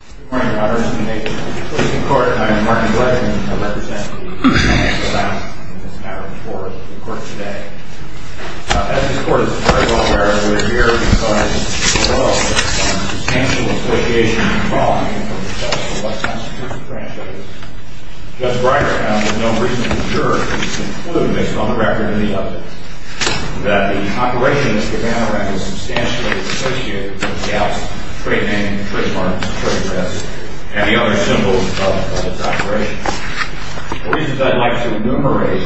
Good morning, honors and mayors of the Supreme Court. I am Martin Bledsoe, and I represent the United States of America in this matter before the Court today. As this Court is very well aware, we are here because of the substantial association and following of the U.S. Constitution franchise. Judge Breyer has found that no reasonable juror can conclude, based on the record of the evidence, that the operation of Mr. Gavana had a substantial association with gaps, trade hanging, trade farms, trade thefts, and the other symbols of its operation. The reasons I'd like to enumerate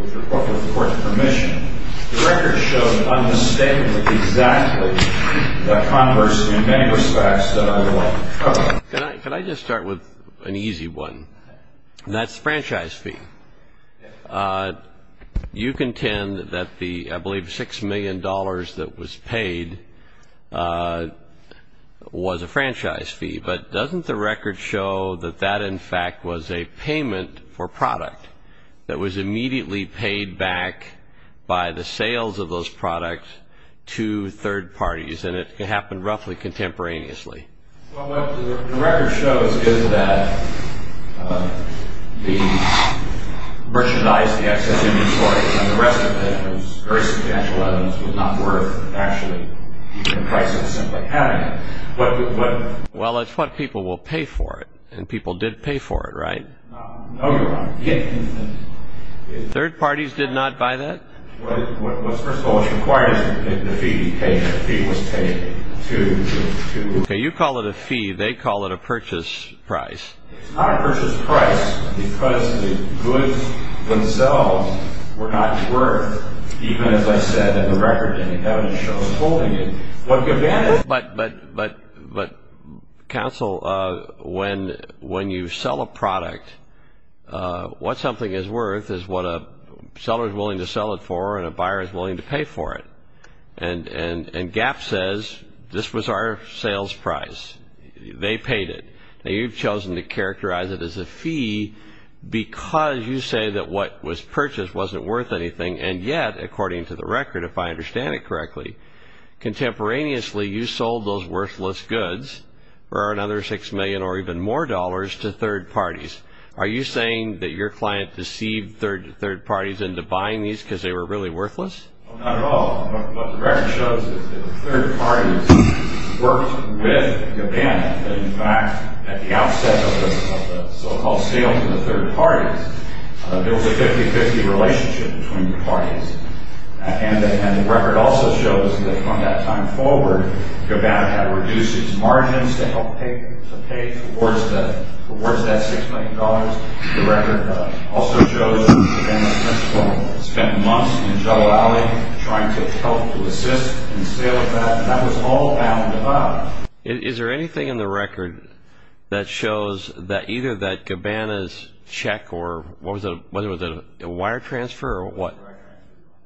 with the Court's permission, the record shows unmistakably exactly the converse in many respects that I would like to cover. Could I just start with an easy one? That's the franchise fee. You contend that the, I believe, $6 million that was paid was a franchise fee, but doesn't the record show that that, in fact, was a payment for product that was immediately paid back by the sales of those products to third parties, and it happened roughly contemporaneously? Well, what the record shows is that the merchandise, the excess inventory, and the rest of it was very substantial evidence, was not worth actually the price of simply having it. Well, it's what people will pay for it, and people did pay for it, right? No, Your Honor. Third parties did not buy that? Well, first of all, what's required is that the fee be paid, and the fee was paid to... Okay, you call it a fee, they call it a purchase price. It's not a purchase price because the goods themselves were not worth, even as I said in the record, and the evidence shows holding it. But counsel, when you sell a product, what something is worth is what a seller is willing to sell it for and a buyer is willing to pay for it. And Gap says, this was our sales price. They paid it. Now, you've chosen to characterize it as a fee because you say that what was purchased wasn't worth anything, and yet, according to the record, if I understand it correctly, contemporaneously, you sold those worthless goods for another six million or even more dollars to third parties. Are you saying that your client deceived third parties into buying these because they were really worthless? Not at all. What the record shows is that third parties worked with Gabbana. In fact, at the outset of the so-called sale to the third parties, there was a 50-50 relationship between the parties. And the record also shows that from that time forward, Gabbana had reduced its margins to help pay towards that six million dollars. The record also shows that Gabbana spent months in the jungle alley trying to help to assist in sales. That was all bound to buy. Is there anything in the record that shows that either that Gabbana's check or whether it was a wire transfer or what?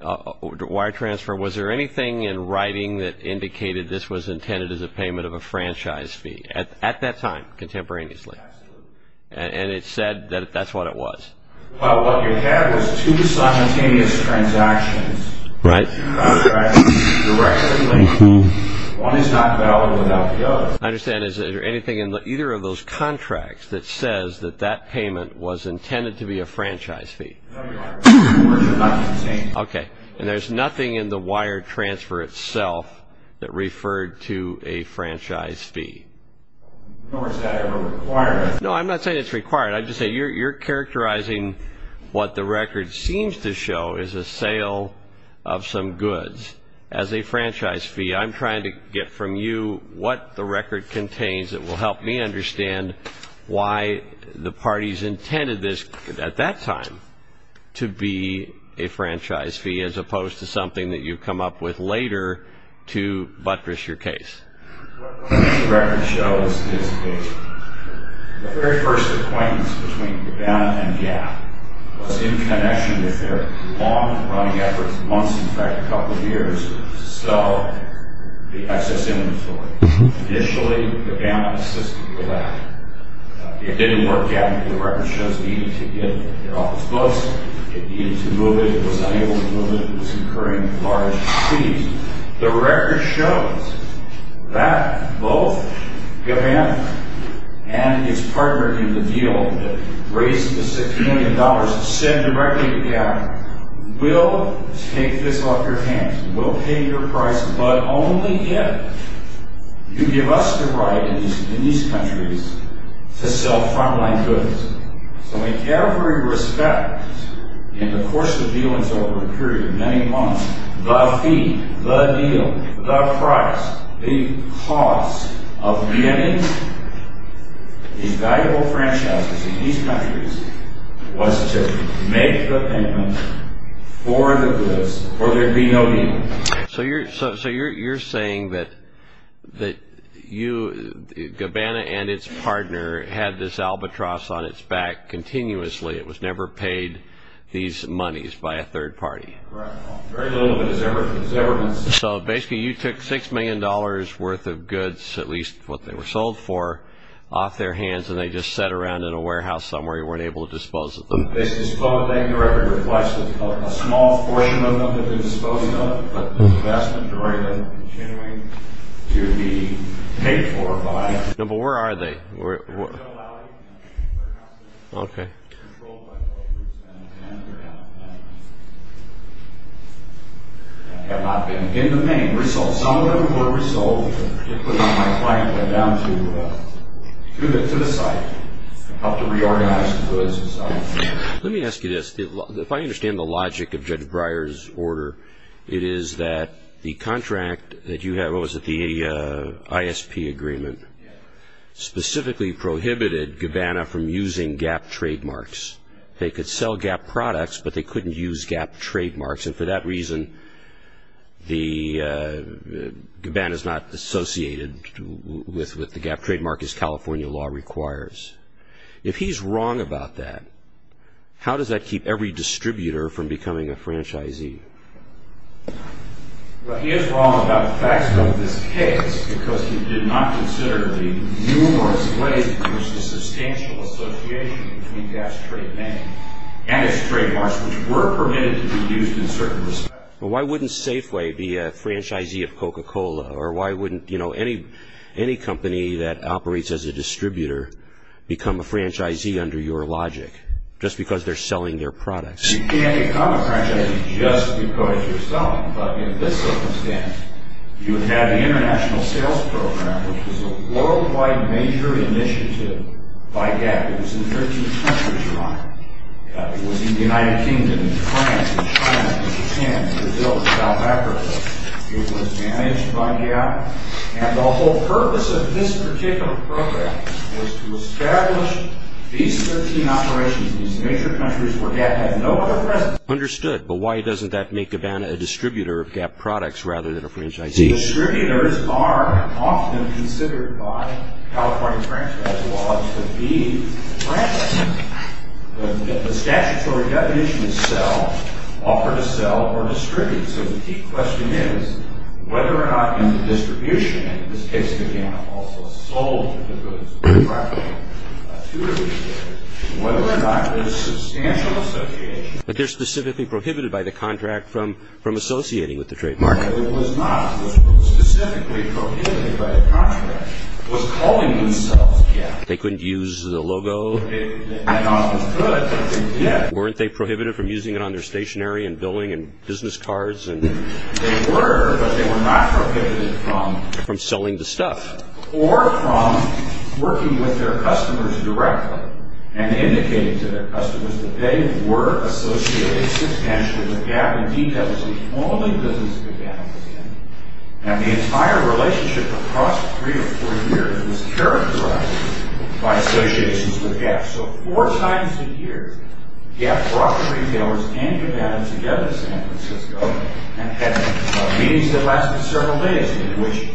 Wire transfer. Wire transfer. Was there anything in writing that indicated this was intended as a payment of a franchise fee at that time contemporaneously? Absolutely. And it said that that's what it was. Well, what you had was two simultaneous transactions. Right. One is not valid without the other. I understand. Is there anything in either of those contracts that says that that payment was intended to be a franchise fee? No, Your Honor. Okay. And there's nothing in the wire transfer itself that referred to a franchise fee? Nor is that ever required. No, I'm not saying it's required. I'm just saying you're characterizing what the record seems to show is a sale of some goods as a franchise fee. I'm trying to get from you what the record contains that will help me understand why the parties intended this at that time to be a franchise fee, as opposed to something that you come up with later to buttress your case. What the record shows is the very first acquaintance between the Bannon and Gap was in connection with their long-running efforts, months, in fact, a couple of years, to sell the excess inventory. Initially, the Bannon assisted with that. It didn't work out. The record shows it needed to get their office books. It needed to move it. It was unable to move it. It was incurring large fees. The record shows that both the Bannon and its partner in the deal that raised the $6 million to send directly to Gap will take this off your hands, will pay your price, but only if you give us the right in these countries to sell frontline goods. So in every respect, in the course of dealings over a period of many months, the fee, the deal, the price, the cost of being in these valuable franchises in these countries was to make the payment for the goods or there'd be no deal. So you're saying that you, Gabana and its partner, had this albatross on its back continuously. It was never paid these monies by a third party. Right. Very little of it was ever paid. So basically, you took $6 million worth of goods, at least what they were sold for, off their hands, and they just sat around in a warehouse somewhere. You weren't able to dispose of them. The record reflects that a small portion of what they've been disposed of, but the investment rate of them continuing to be paid for by… No, but where are they? They're out in the valley. Okay. They're controlled by both groups, Bannon and Gap. They have not been in the pain. Some of them were resold. My client went down to the site to help to reorganize the goods. Let me ask you this. If I understand the logic of Judge Breyer's order, it is that the contract that you have, what was it, the ISP agreement, specifically prohibited Gabana from using Gap trademarks. They could sell Gap products, but they couldn't use Gap trademarks, and for that reason, Gabana is not associated with the Gap trademark as California law requires. If he's wrong about that, how does that keep every distributor from becoming a franchisee? Well, he is wrong about the facts of this case because he did not consider the numerous ways in which the substantial association between Gap's trade name and its trademarks, which were permitted to be used in certain respects. Why wouldn't Safeway be a franchisee of Coca-Cola? Or why wouldn't any company that operates as a distributor become a franchisee under your logic, just because they're selling their products? You can't become a franchisee just because you're selling, but in this circumstance, you would have the International Sales Program, which was a worldwide major initiative by Gap. It was in 13 countries, Your Honor. It was in the United Kingdom, France, China, Japan, Brazil, and South Africa. It was managed by Gap, and the whole purpose of this particular program was to establish these 13 operations in these major countries where Gap had no other presence. Understood, but why doesn't that make Gabana a distributor of Gap products rather than a franchisee? Distributors are often considered by California franchise law to be franchisees. The statutory definition is sell, offer to sell, or distribute. So the key question is whether or not in the distribution, and in this case, Gabana also sold the goods to Gap, whether or not there's substantial association. But they're specifically prohibited by the contract from associating with the trademark. No, it was not. It was specifically prohibited by the contract. It was calling themselves Gap. They couldn't use the logo. It was good, but they did. Weren't they prohibited from using it on their stationery and billing and business cards? They were, but they were not prohibited from... From selling the stuff. Or from working with their customers directly and indicating to their customers that they were associated substantially with Gap. Indeed, that was the only business that Gap was in. And the entire relationship across three or four years was characterized by associations with Gap. So four times a year, Gap brought the retailers and Gabana together to San Francisco and had meetings that lasted several days in which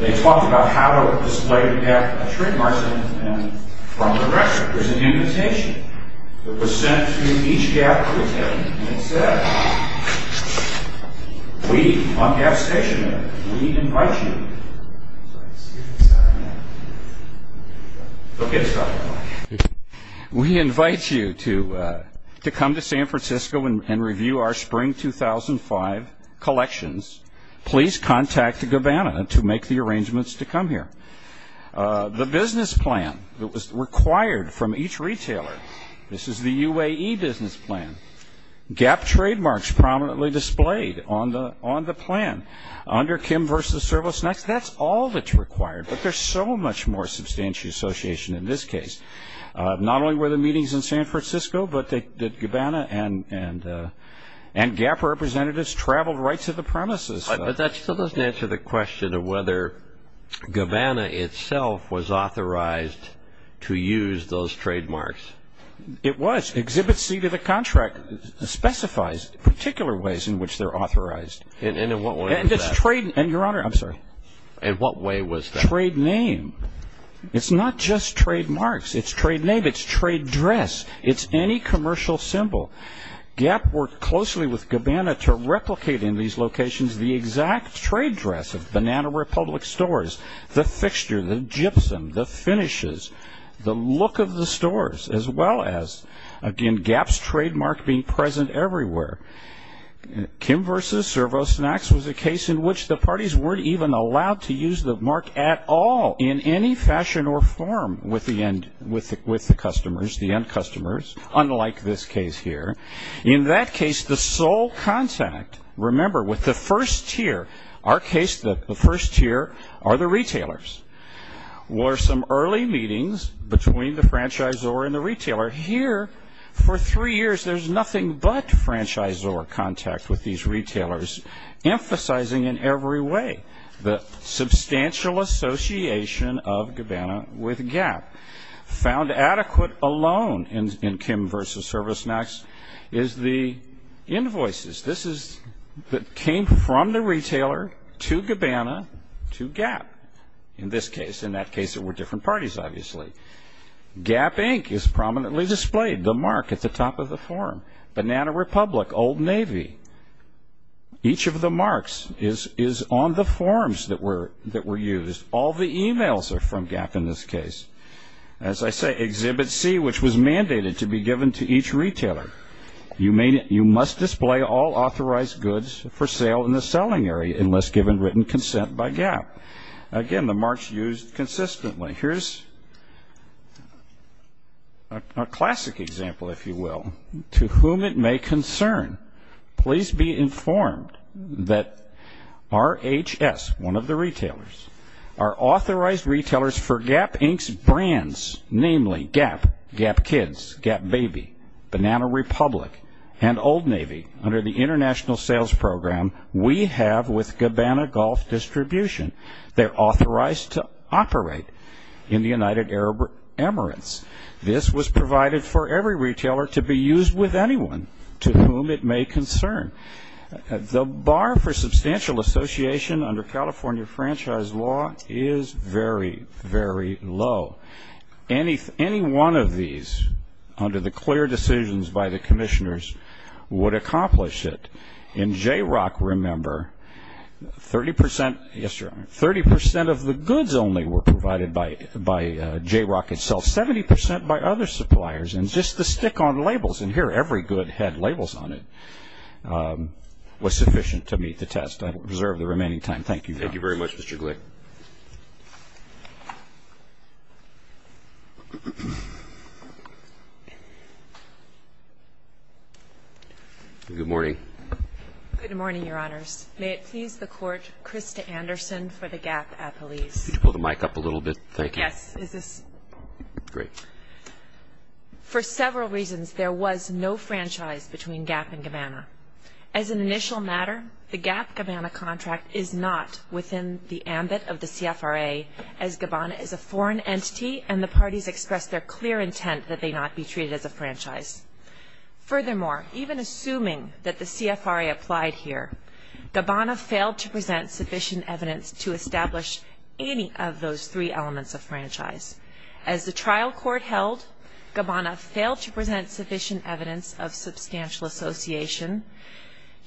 they talked about how to display the Gap trademarks and from the restaurant. There's an invitation that was sent to each Gap retailer that said, We on Gap Stationery, we invite you... We invite you to come to San Francisco and review our Spring 2005 collections. Please contact Gabana to make the arrangements to come here. The business plan that was required from each retailer. This is the UAE business plan. Gap trademarks prominently displayed on the plan. Under Kim versus Servos Next, that's all that's required, but there's so much more substantial association in this case. Not only were the meetings in San Francisco, but Gabana and Gap representatives traveled right to the premises. But that still doesn't answer the question of whether Gabana itself was authorized to use those trademarks. It was. Exhibit C to the contract specifies particular ways in which they're authorized. And in what way was that? And it's trade... Your Honor, I'm sorry. In what way was that? Trade name. It's not just trademarks. It's trade name. It's trade dress. It's any commercial symbol. Gap worked closely with Gabana to replicate in these locations the exact trade dress of Banana Republic stores. The fixture, the gypsum, the finishes, the look of the stores, as well as, again, Gap's trademark being present everywhere. Kim versus Servos Next was a case in which the parties weren't even allowed to use the mark at all in any fashion or form with the end customers, unlike this case here. In that case, the sole contact, remember, with the first tier, our case that the first tier are the retailers, were some early meetings between the franchisor and the retailer. Here, for three years, there's nothing but franchisor contact with these retailers, emphasizing in every way the substantial association of Gabana with Gap. Found adequate alone in Kim versus Servos Next is the invoices. This is that came from the retailer to Gabana to Gap in this case. In that case, there were different parties, obviously. Gap, Inc. is prominently displayed, the mark at the top of the form. Banana Republic, Old Navy, each of the marks is on the forms that were used. All the emails are from Gap in this case. As I say, Exhibit C, which was mandated to be given to each retailer, you must display all authorized goods for sale in the selling area unless given written consent by Gap. Again, the marks used consistently. Here's a classic example, if you will, to whom it may concern. Please be informed that RHS, one of the retailers, are authorized retailers for Gap, Inc.'s brands, namely Gap, Gap Kids, Gap Baby, Banana Republic, and Old Navy under the international sales program we have with Gabana Golf Distribution. They're authorized to operate in the United Arab Emirates. This was provided for every retailer to be used with anyone to whom it may concern. The bar for substantial association under California franchise law is very, very low. Any one of these under the clear decisions by the commissioners would accomplish it. In JROC, remember, 30% of the goods only were provided by JROC itself, 70% by other suppliers, and just the stick-on labels, and here every good had labels on it, was sufficient to meet the test. I will reserve the remaining time. Thank you very much. Thank you very much, Mr. Glick. Good morning. Good morning, Your Honors. May it please the Court, Krista Anderson for the Gap appellees. Could you pull the mic up a little bit? Thank you. Yes. Great. For several reasons, there was no franchise between Gap and Gabana. As an initial matter, the Gap-Gabana contract is not within the ambit of the CFRA as Gabana is a foreign entity and the parties expressed their clear intent that they not be treated as a franchise. Furthermore, even assuming that the CFRA applied here, Gabana failed to present sufficient evidence to establish any of those three elements of franchise. As the trial court held, Gabana failed to present sufficient evidence of substantial association.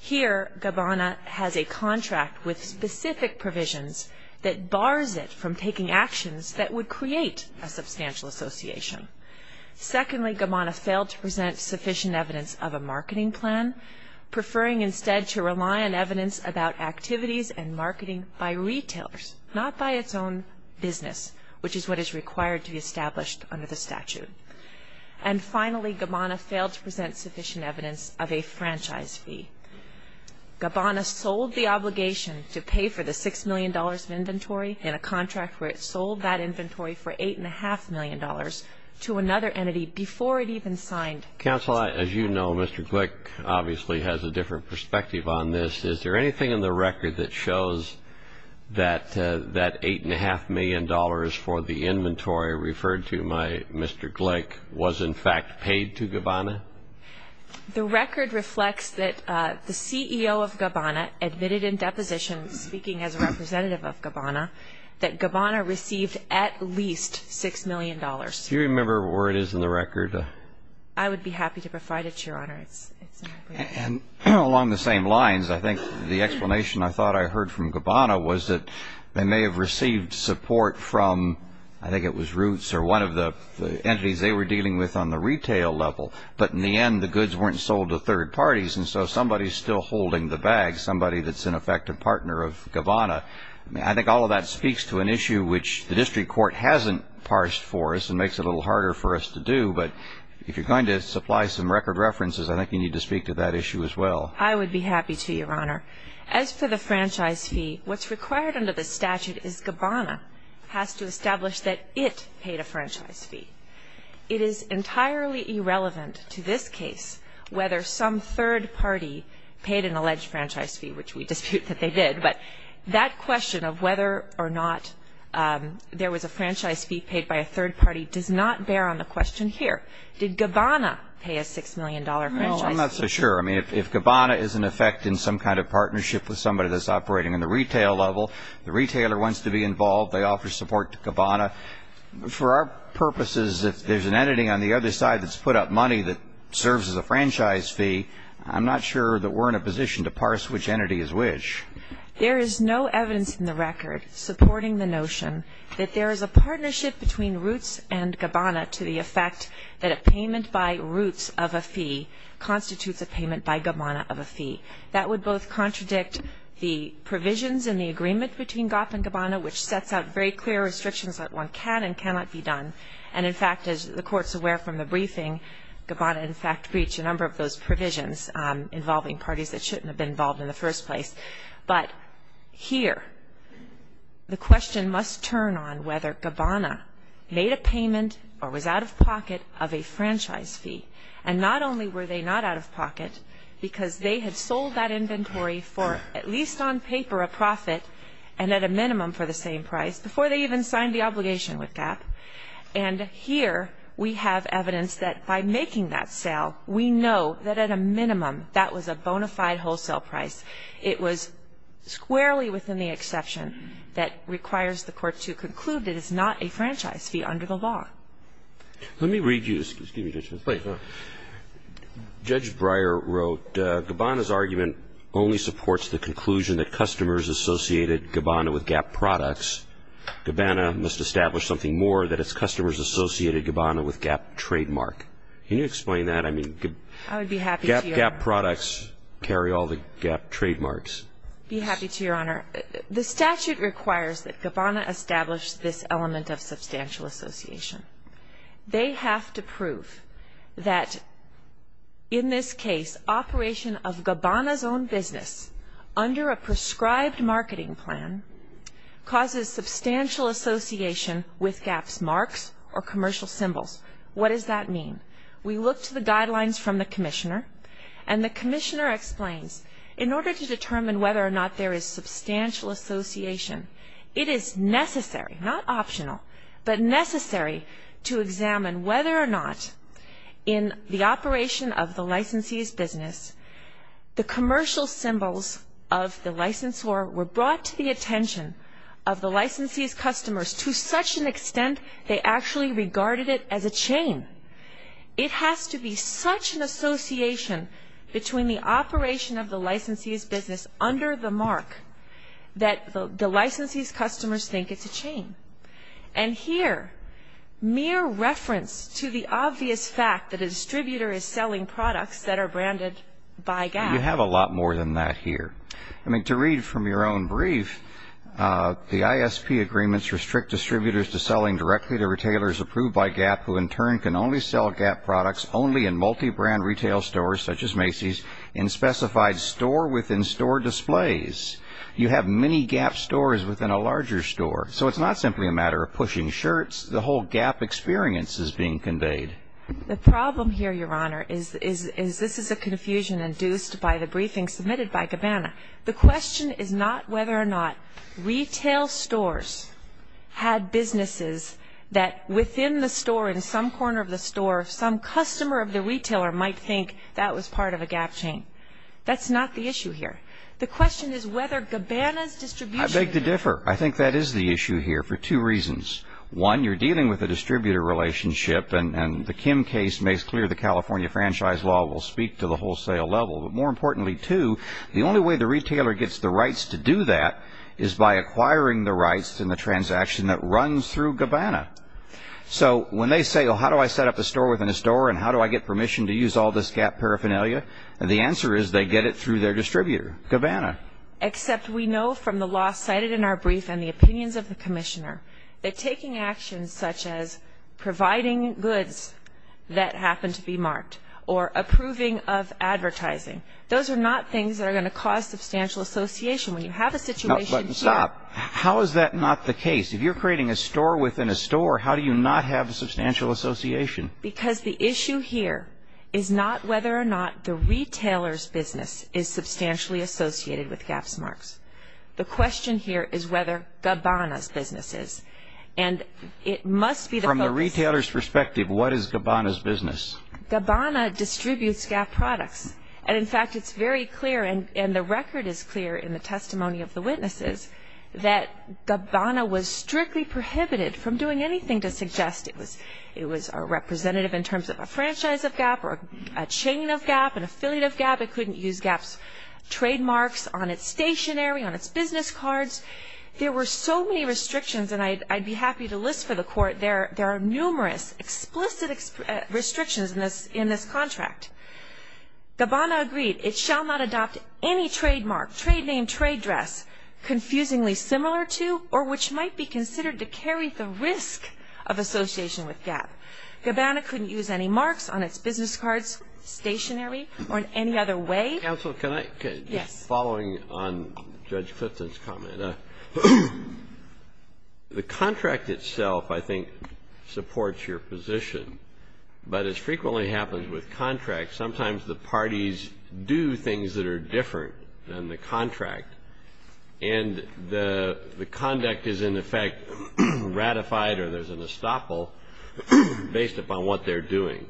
Here, Gabana has a contract with specific provisions that bars it from taking actions that would create a substantial association. Secondly, Gabana failed to present sufficient evidence of a marketing plan, preferring instead to rely on evidence about activities and marketing by retailers, not by its own business, which is what is required to be established under the statute. And finally, Gabana failed to present sufficient evidence of a franchise fee. Gabana sold the obligation to pay for the $6 million of inventory in a contract where it sold that inventory for $8.5 million to another entity before it even signed. Counsel, as you know, Mr. Glick obviously has a different perspective on this. Is there anything in the record that shows that that $8.5 million for the inventory referred to by Mr. Glick was in fact paid to Gabana? The record reflects that the CEO of Gabana admitted in deposition, speaking as a representative of Gabana, that Gabana received at least $6 million. Do you remember where it is in the record? I would be happy to provide it, Your Honor. And along the same lines, I think the explanation I thought I heard from Gabana was that they may have received support from, I think it was Roots or one of the entities they were dealing with on the retail level, but in the end the goods weren't sold to third parties, and so somebody is still holding the bag, somebody that's in effect a partner of Gabana. I think all of that speaks to an issue which the district court hasn't parsed for us and makes it a little harder for us to do, but if you're going to supply some record references, I think you need to speak to that issue as well. I would be happy to, Your Honor. As for the franchise fee, what's required under the statute is Gabana has to establish that it paid a franchise fee. It is entirely irrelevant to this case whether some third party paid an alleged franchise fee, which we dispute that they did, but that question of whether or not there was a franchise fee paid by a third party does not bear on the question here. Did Gabana pay a $6 million franchise fee? No, I'm not so sure. I mean, if Gabana is in effect in some kind of partnership with somebody that's operating in the retail level, the retailer wants to be involved, they offer support to Gabana. For our purposes, if there's an entity on the other side that's put up money that serves as a franchise fee, I'm not sure that we're in a position to parse which entity is which. There is no evidence in the record supporting the notion that there is a partnership between Roots and Gabana to the effect that a payment by Roots of a fee constitutes a payment by Gabana of a fee. That would both contradict the provisions in the agreement between GOP and Gabana, which sets out very clear restrictions that one can and cannot be done, and, in fact, as the Court's aware from the briefing, Gabana, in fact, breached a number of those provisions involving parties that shouldn't have been involved in the first place. But here the question must turn on whether Gabana made a payment or was out of pocket of a franchise fee, and not only were they not out of pocket because they had sold that inventory for at least on paper a profit and at a minimum for the same price before they even signed the obligation with GAP. And here we have evidence that by making that sale, we know that at a minimum that was a bona fide wholesale price. It was squarely within the exception that requires the Court to conclude it is not a franchise fee under the law. Let me read you, excuse me, Judge Breyer, wrote, and Gabana's argument only supports the conclusion that customers associated Gabana with GAP products. Gabana must establish something more that its customers associated Gabana with GAP trademark. Can you explain that? I mean, GAP products carry all the GAP trademarks. I would be happy to, Your Honor. The statute requires that Gabana establish this element of substantial association. They have to prove that in this case, operation of Gabana's own business under a prescribed marketing plan causes substantial association with GAP's marks or commercial symbols. What does that mean? We looked at the guidelines from the Commissioner, and the Commissioner explains, in order to determine whether or not there is substantial association, it is necessary, not optional, but necessary to examine whether or not in the operation of the licensee's business, the commercial symbols of the licensor were brought to the attention of the licensee's customers to such an extent they actually regarded it as a chain. It has to be such an association between the operation of the licensee's business under the mark that the licensee's customers think it's a chain. And here, mere reference to the obvious fact that a distributor is selling products that are branded by GAP. You have a lot more than that here. I mean, to read from your own brief, the ISP agreements restrict distributors to selling directly to retailers approved by GAP who in turn can only sell GAP products only in multi-brand retail stores, such as Macy's, in specified store-within-store displays. You have many GAP stores within a larger store. So it's not simply a matter of pushing shirts. The whole GAP experience is being conveyed. The problem here, Your Honor, is this is a confusion induced by the briefing submitted by Gabbana. The question is not whether or not retail stores had businesses that within the store, in some corner of the store, some customer of the retailer might think that was part of a GAP chain. That's not the issue here. The question is whether Gabbana's distribution... I beg to differ. I think that is the issue here for two reasons. One, you're dealing with a distributor relationship, and the Kim case makes clear the California franchise law will speak to the wholesale level. But more importantly, too, the only way the retailer gets the rights to do that is by acquiring the rights in the transaction that runs through Gabbana. So when they say, well, how do I set up a store-within-a-store, and how do I get permission to use all this GAP paraphernalia? The answer is they get it through their distributor, Gabbana. Except we know from the law cited in our brief and the opinions of the Commissioner that taking actions such as providing goods that happen to be marked or approving of advertising, those are not things that are going to cause substantial association. When you have a situation here... Stop. How is that not the case? If you're creating a store-within-a-store, how do you not have substantial association? Because the issue here is not whether or not the retailer's business is substantially associated with GAP's marks. The question here is whether Gabbana's business is. And it must be the focus... From the retailer's perspective, what is Gabbana's business? Gabbana distributes GAP products. And, in fact, it's very clear, and the record is clear in the testimony of the witnesses, that Gabbana was strictly prohibited from doing anything to suggest it was a representative in terms of a franchise of GAP or a chain of GAP, an affiliate of GAP. It couldn't use GAP's trademarks on its stationery, on its business cards. There were so many restrictions, and I'd be happy to list for the Court, there are numerous explicit restrictions in this contract. Gabbana agreed. It shall not adopt any trademark, trade name, trade dress, confusingly similar to or which might be considered to carry the risk of association with GAP. Gabbana couldn't use any marks on its business cards, stationery, or in any other way. Counsel, can I... Yes. Following on Judge Clifton's comment, the contract itself, I think, supports your position. But as frequently happens with contracts, sometimes the parties do things that are different than the contract, and the conduct is, in effect, ratified or there's an estoppel based upon what they're doing.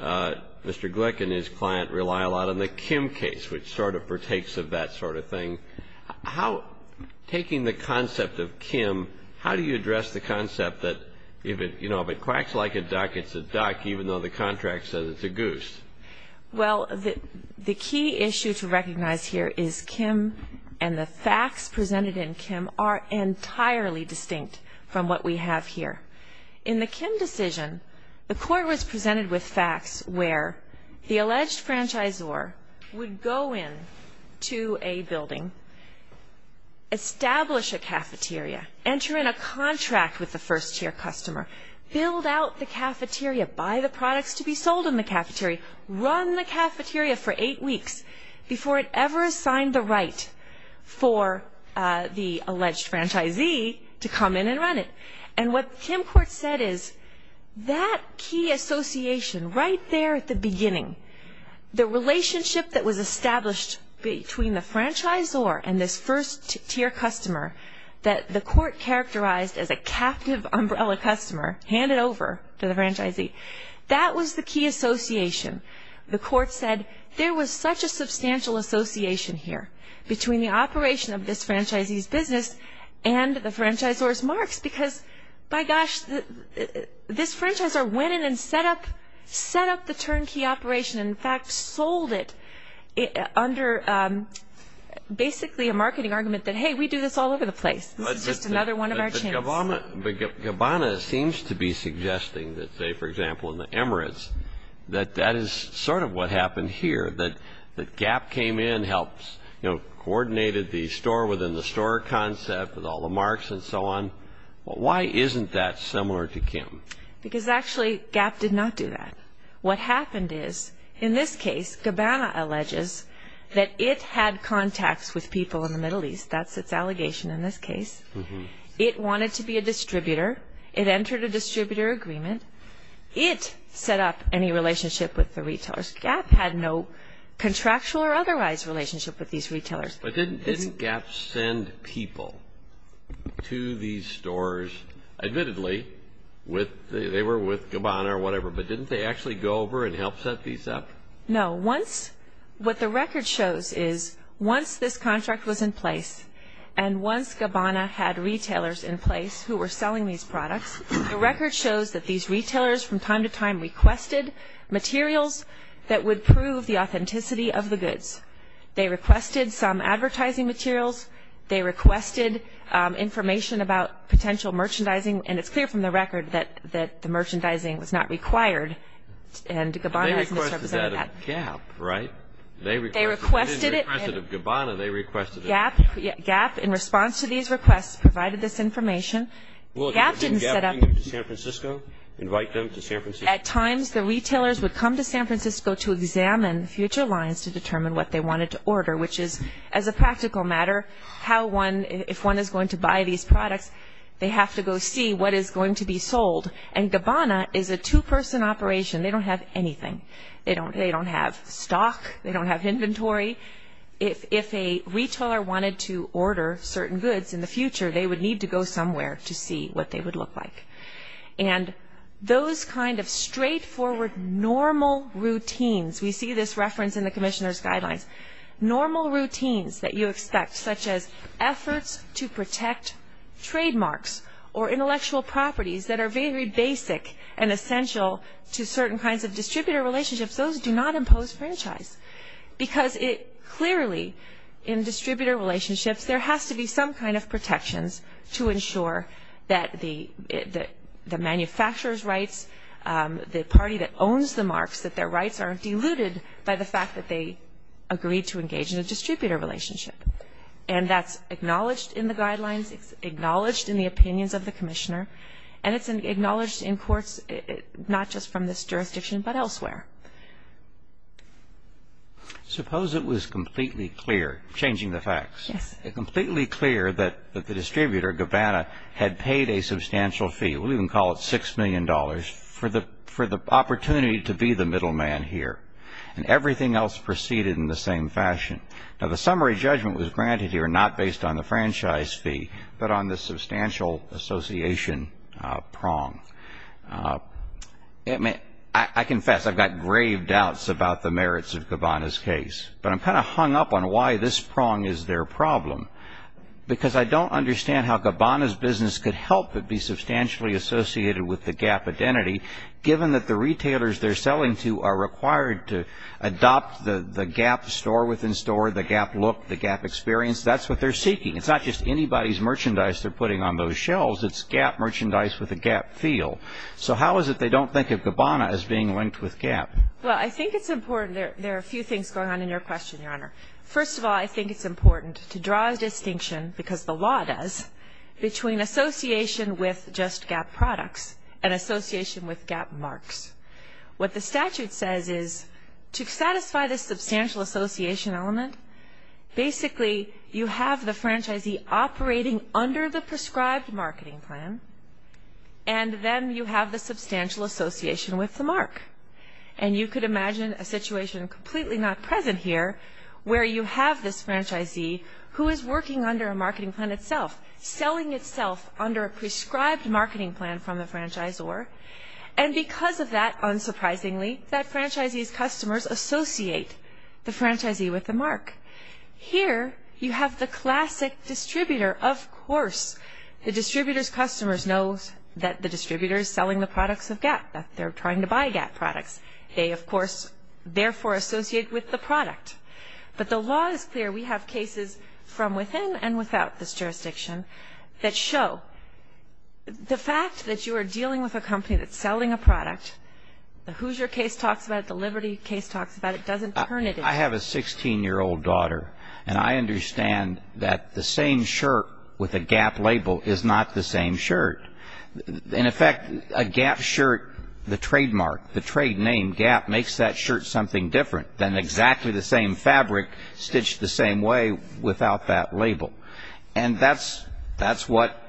Mr. Glick and his client rely a lot on the Kim case, which sort of partakes of that sort of thing. Taking the concept of Kim, how do you address the concept that, you know, if it quacks like a duck, it's a duck, even though the contract says it's a goose? Well, the key issue to recognize here is Kim and the facts presented in Kim are entirely distinct from what we have here. In the Kim decision, the court was presented with facts where the alleged franchisor would go into a building, establish a cafeteria, enter in a contract with the first-tier customer, build out the cafeteria, buy the products to be sold in the cafeteria, run the cafeteria for eight weeks before it ever assigned the right for the alleged franchisee to come in and run it. And what Kim court said is that key association right there at the beginning, the relationship that was established between the franchisor and this first-tier customer that the court characterized as a captive umbrella customer handed over to the franchisee, that was the key association. The court said there was such a substantial association here between the operation of this franchisee's business and the franchisor's marks because, by gosh, this franchisor went in and set up the turnkey operation and, in fact, sold it under basically a marketing argument that, hey, we do this all over the place. This is just another one of our chances. But Gabbana seems to be suggesting that, say, for example, in the Emirates, that that is sort of what happened here, that Gap came in, coordinated the store-within-the-store concept with all the marks and so on. Why isn't that similar to Kim? Because, actually, Gap did not do that. What happened is, in this case, Gabbana alleges that it had contacts with people in the Middle East. That's its allegation in this case. It wanted to be a distributor. It entered a distributor agreement. It set up any relationship with the retailers. Gap had no contractual or otherwise relationship with these retailers. But didn't Gap send people to these stores? Admittedly, they were with Gabbana or whatever, but didn't they actually go over and help set these up? No. What the record shows is, once this contract was in place and once Gabbana had retailers in place who were selling these products, the record shows that these retailers from time to time requested materials that would prove the authenticity of the goods. They requested some advertising materials. They requested information about potential merchandising, and it's clear from the record that the merchandising was not required, and Gabbana has misrepresented that. They requested that of Gap, right? They requested it. They didn't request it of Gabbana. They requested it of Gap. Gap, in response to these requests, provided this information. Gap didn't set up. Was Gabbana going to San Francisco, invite them to San Francisco? At times, the retailers would come to San Francisco to examine future lines to determine what they wanted to order, which is, as a practical matter, if one is going to buy these products, they have to go see what is going to be sold. And Gabbana is a two-person operation. They don't have anything. They don't have stock. They don't have inventory. If a retailer wanted to order certain goods in the future, they would need to go somewhere to see what they would look like. And those kind of straightforward normal routines, we see this reference in the Commissioner's Guidelines, normal routines that you expect, such as efforts to protect trademarks or intellectual properties that are very basic and essential to certain kinds of distributor relationships, those do not impose franchise because it clearly, in distributor relationships, there has to be some kind of protections to ensure that the manufacturer's rights, the party that owns the marks, that their rights aren't diluted by the fact that they agreed to engage in a distributor relationship. And that's acknowledged in the Guidelines. It's acknowledged in the opinions of the Commissioner. And it's acknowledged in courts, not just from this jurisdiction, but elsewhere. Suppose it was completely clear, changing the facts. Yes. Completely clear that the distributor, Gabbana, had paid a substantial fee. We'll even call it $6 million for the opportunity to be the middleman here. And everything else proceeded in the same fashion. Now, the summary judgment was granted here not based on the franchise fee, but on the substantial association prong. I confess, I've got grave doubts about the merits of Gabbana's case. But I'm kind of hung up on why this prong is their problem. Because I don't understand how Gabbana's business could help but be substantially associated with the GAP identity, given that the retailers they're selling to are required to adopt the GAP store within store, the GAP look, the GAP experience. That's what they're seeking. It's not just anybody's merchandise they're putting on those shelves. It's GAP merchandise with a GAP feel. So how is it they don't think of Gabbana as being linked with GAP? Well, I think it's important. There are a few things going on in your question, Your Honor. First of all, I think it's important to draw a distinction, because the law does, between association with just GAP products and association with GAP marks. What the statute says is to satisfy the substantial association element, basically you have the franchisee operating under the prescribed marketing plan, and then you have the substantial association with the mark. And you could imagine a situation completely not present here, where you have this franchisee who is working under a marketing plan itself, selling itself under a prescribed marketing plan from the franchisor, and because of that, unsurprisingly, that franchisee's customers associate the franchisee with the mark. Here, you have the classic distributor. Of course, the distributor's customers know that the distributor is selling the products of GAP, that they're trying to buy GAP products. They, of course, therefore associate with the product. But the law is clear. We have cases from within and without this jurisdiction that show the fact that you are dealing with a company that's selling a product. The Hoosier case talks about it. The Liberty case talks about it. It doesn't turn it in. I have a 16-year-old daughter, and I understand that the same shirt with a GAP label is not the same shirt. In effect, a GAP shirt, the trademark, the trade name GAP, makes that shirt something different than exactly the same fabric stitched the same way without that label. And that's what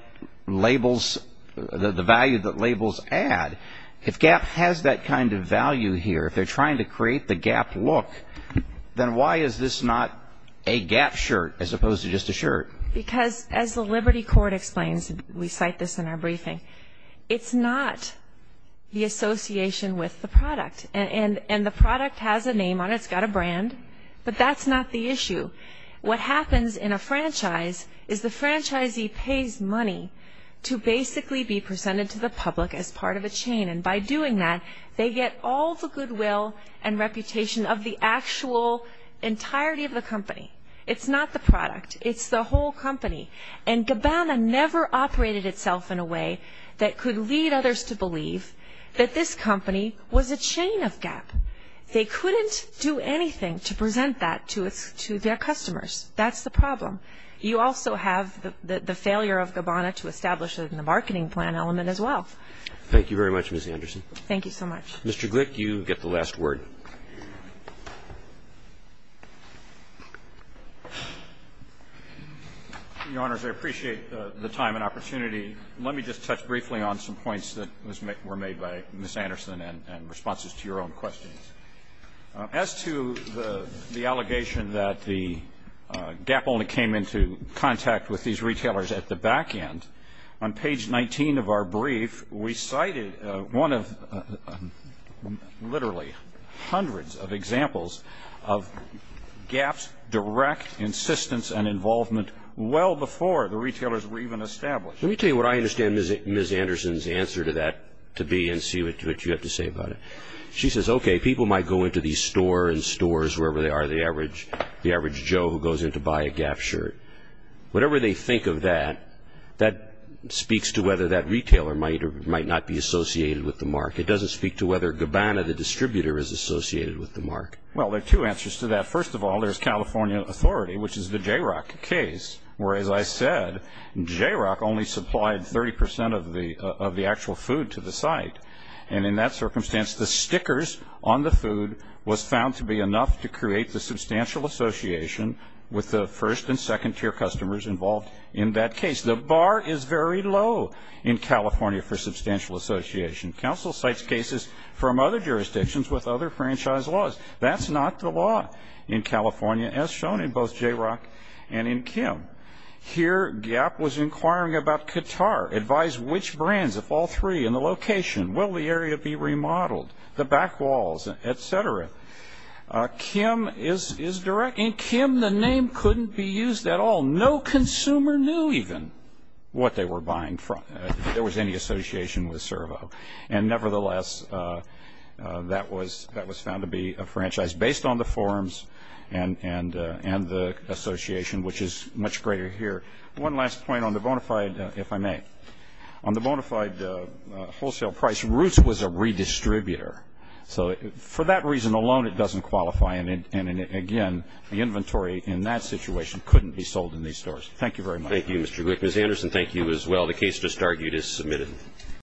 labels, the value that labels add. If GAP has that kind of value here, if they're trying to create the GAP look, then why is this not a GAP shirt as opposed to just a shirt? Because, as the Liberty court explains, we cite this in our briefing, it's not the association with the product. And the product has a name on it. It's got a brand. But that's not the issue. What happens in a franchise is the franchisee pays money to basically be presented to the public as part of a chain. And by doing that, they get all the goodwill and reputation of the actual entirety of the company. It's not the product. It's the whole company. And Gabbana never operated itself in a way that could lead others to believe that this company was a chain of GAP. They couldn't do anything to present that to their customers. That's the problem. You also have the failure of Gabbana to establish it in the marketing plan element as well. Roberts. Thank you very much, Ms. Anderson. Thank you so much. Mr. Glick, you get the last word. Your Honors, I appreciate the time and opportunity. Let me just touch briefly on some points that were made by Ms. Anderson and responses to your own questions. As to the allegation that the GAP only came into contact with these retailers at the back end, on page 19 of our brief, we cited one of literally hundreds of examples of GAP's direct insistence and involvement well before the retailers were even established. Let me tell you what I understand Ms. Anderson's answer to that to be and see what you have to say about it. She says, okay, people might go into these store and stores, wherever they are, the average Joe who goes in to buy a GAP shirt. Whatever they think of that, that speaks to whether that retailer might or might not be associated with the mark. It doesn't speak to whether Gabbana, the distributor, is associated with the mark. Well, there are two answers to that. First of all, there's California authority, which is the Jayrock case, where, as I said, Jayrock only supplied 30% of the actual food to the site. And in that circumstance, the stickers on the food was found to be enough to create the substantial association with the first and second tier customers involved in that case. The bar is very low in California for substantial association. Counsel cites cases from other jurisdictions with other franchise laws. That's not the law in California, as shown in both Jayrock and in Kim. Here, GAP was inquiring about Qatar, advised which brands of all three in the location, will the area be remodeled, the back walls, et cetera. In Kim, the name couldn't be used at all. No consumer knew even what they were buying from, if there was any association with Servo. And, nevertheless, that was found to be a franchise based on the forms and the association, which is much greater here. One last point on the bona fide, if I may. On the bona fide wholesale price, Roots was a redistributor. So for that reason alone, it doesn't qualify. And, again, the inventory in that situation couldn't be sold in these stores. Thank you very much. Thank you, Mr. Glick. Ms. Anderson, thank you as well. The case just argued is submitted.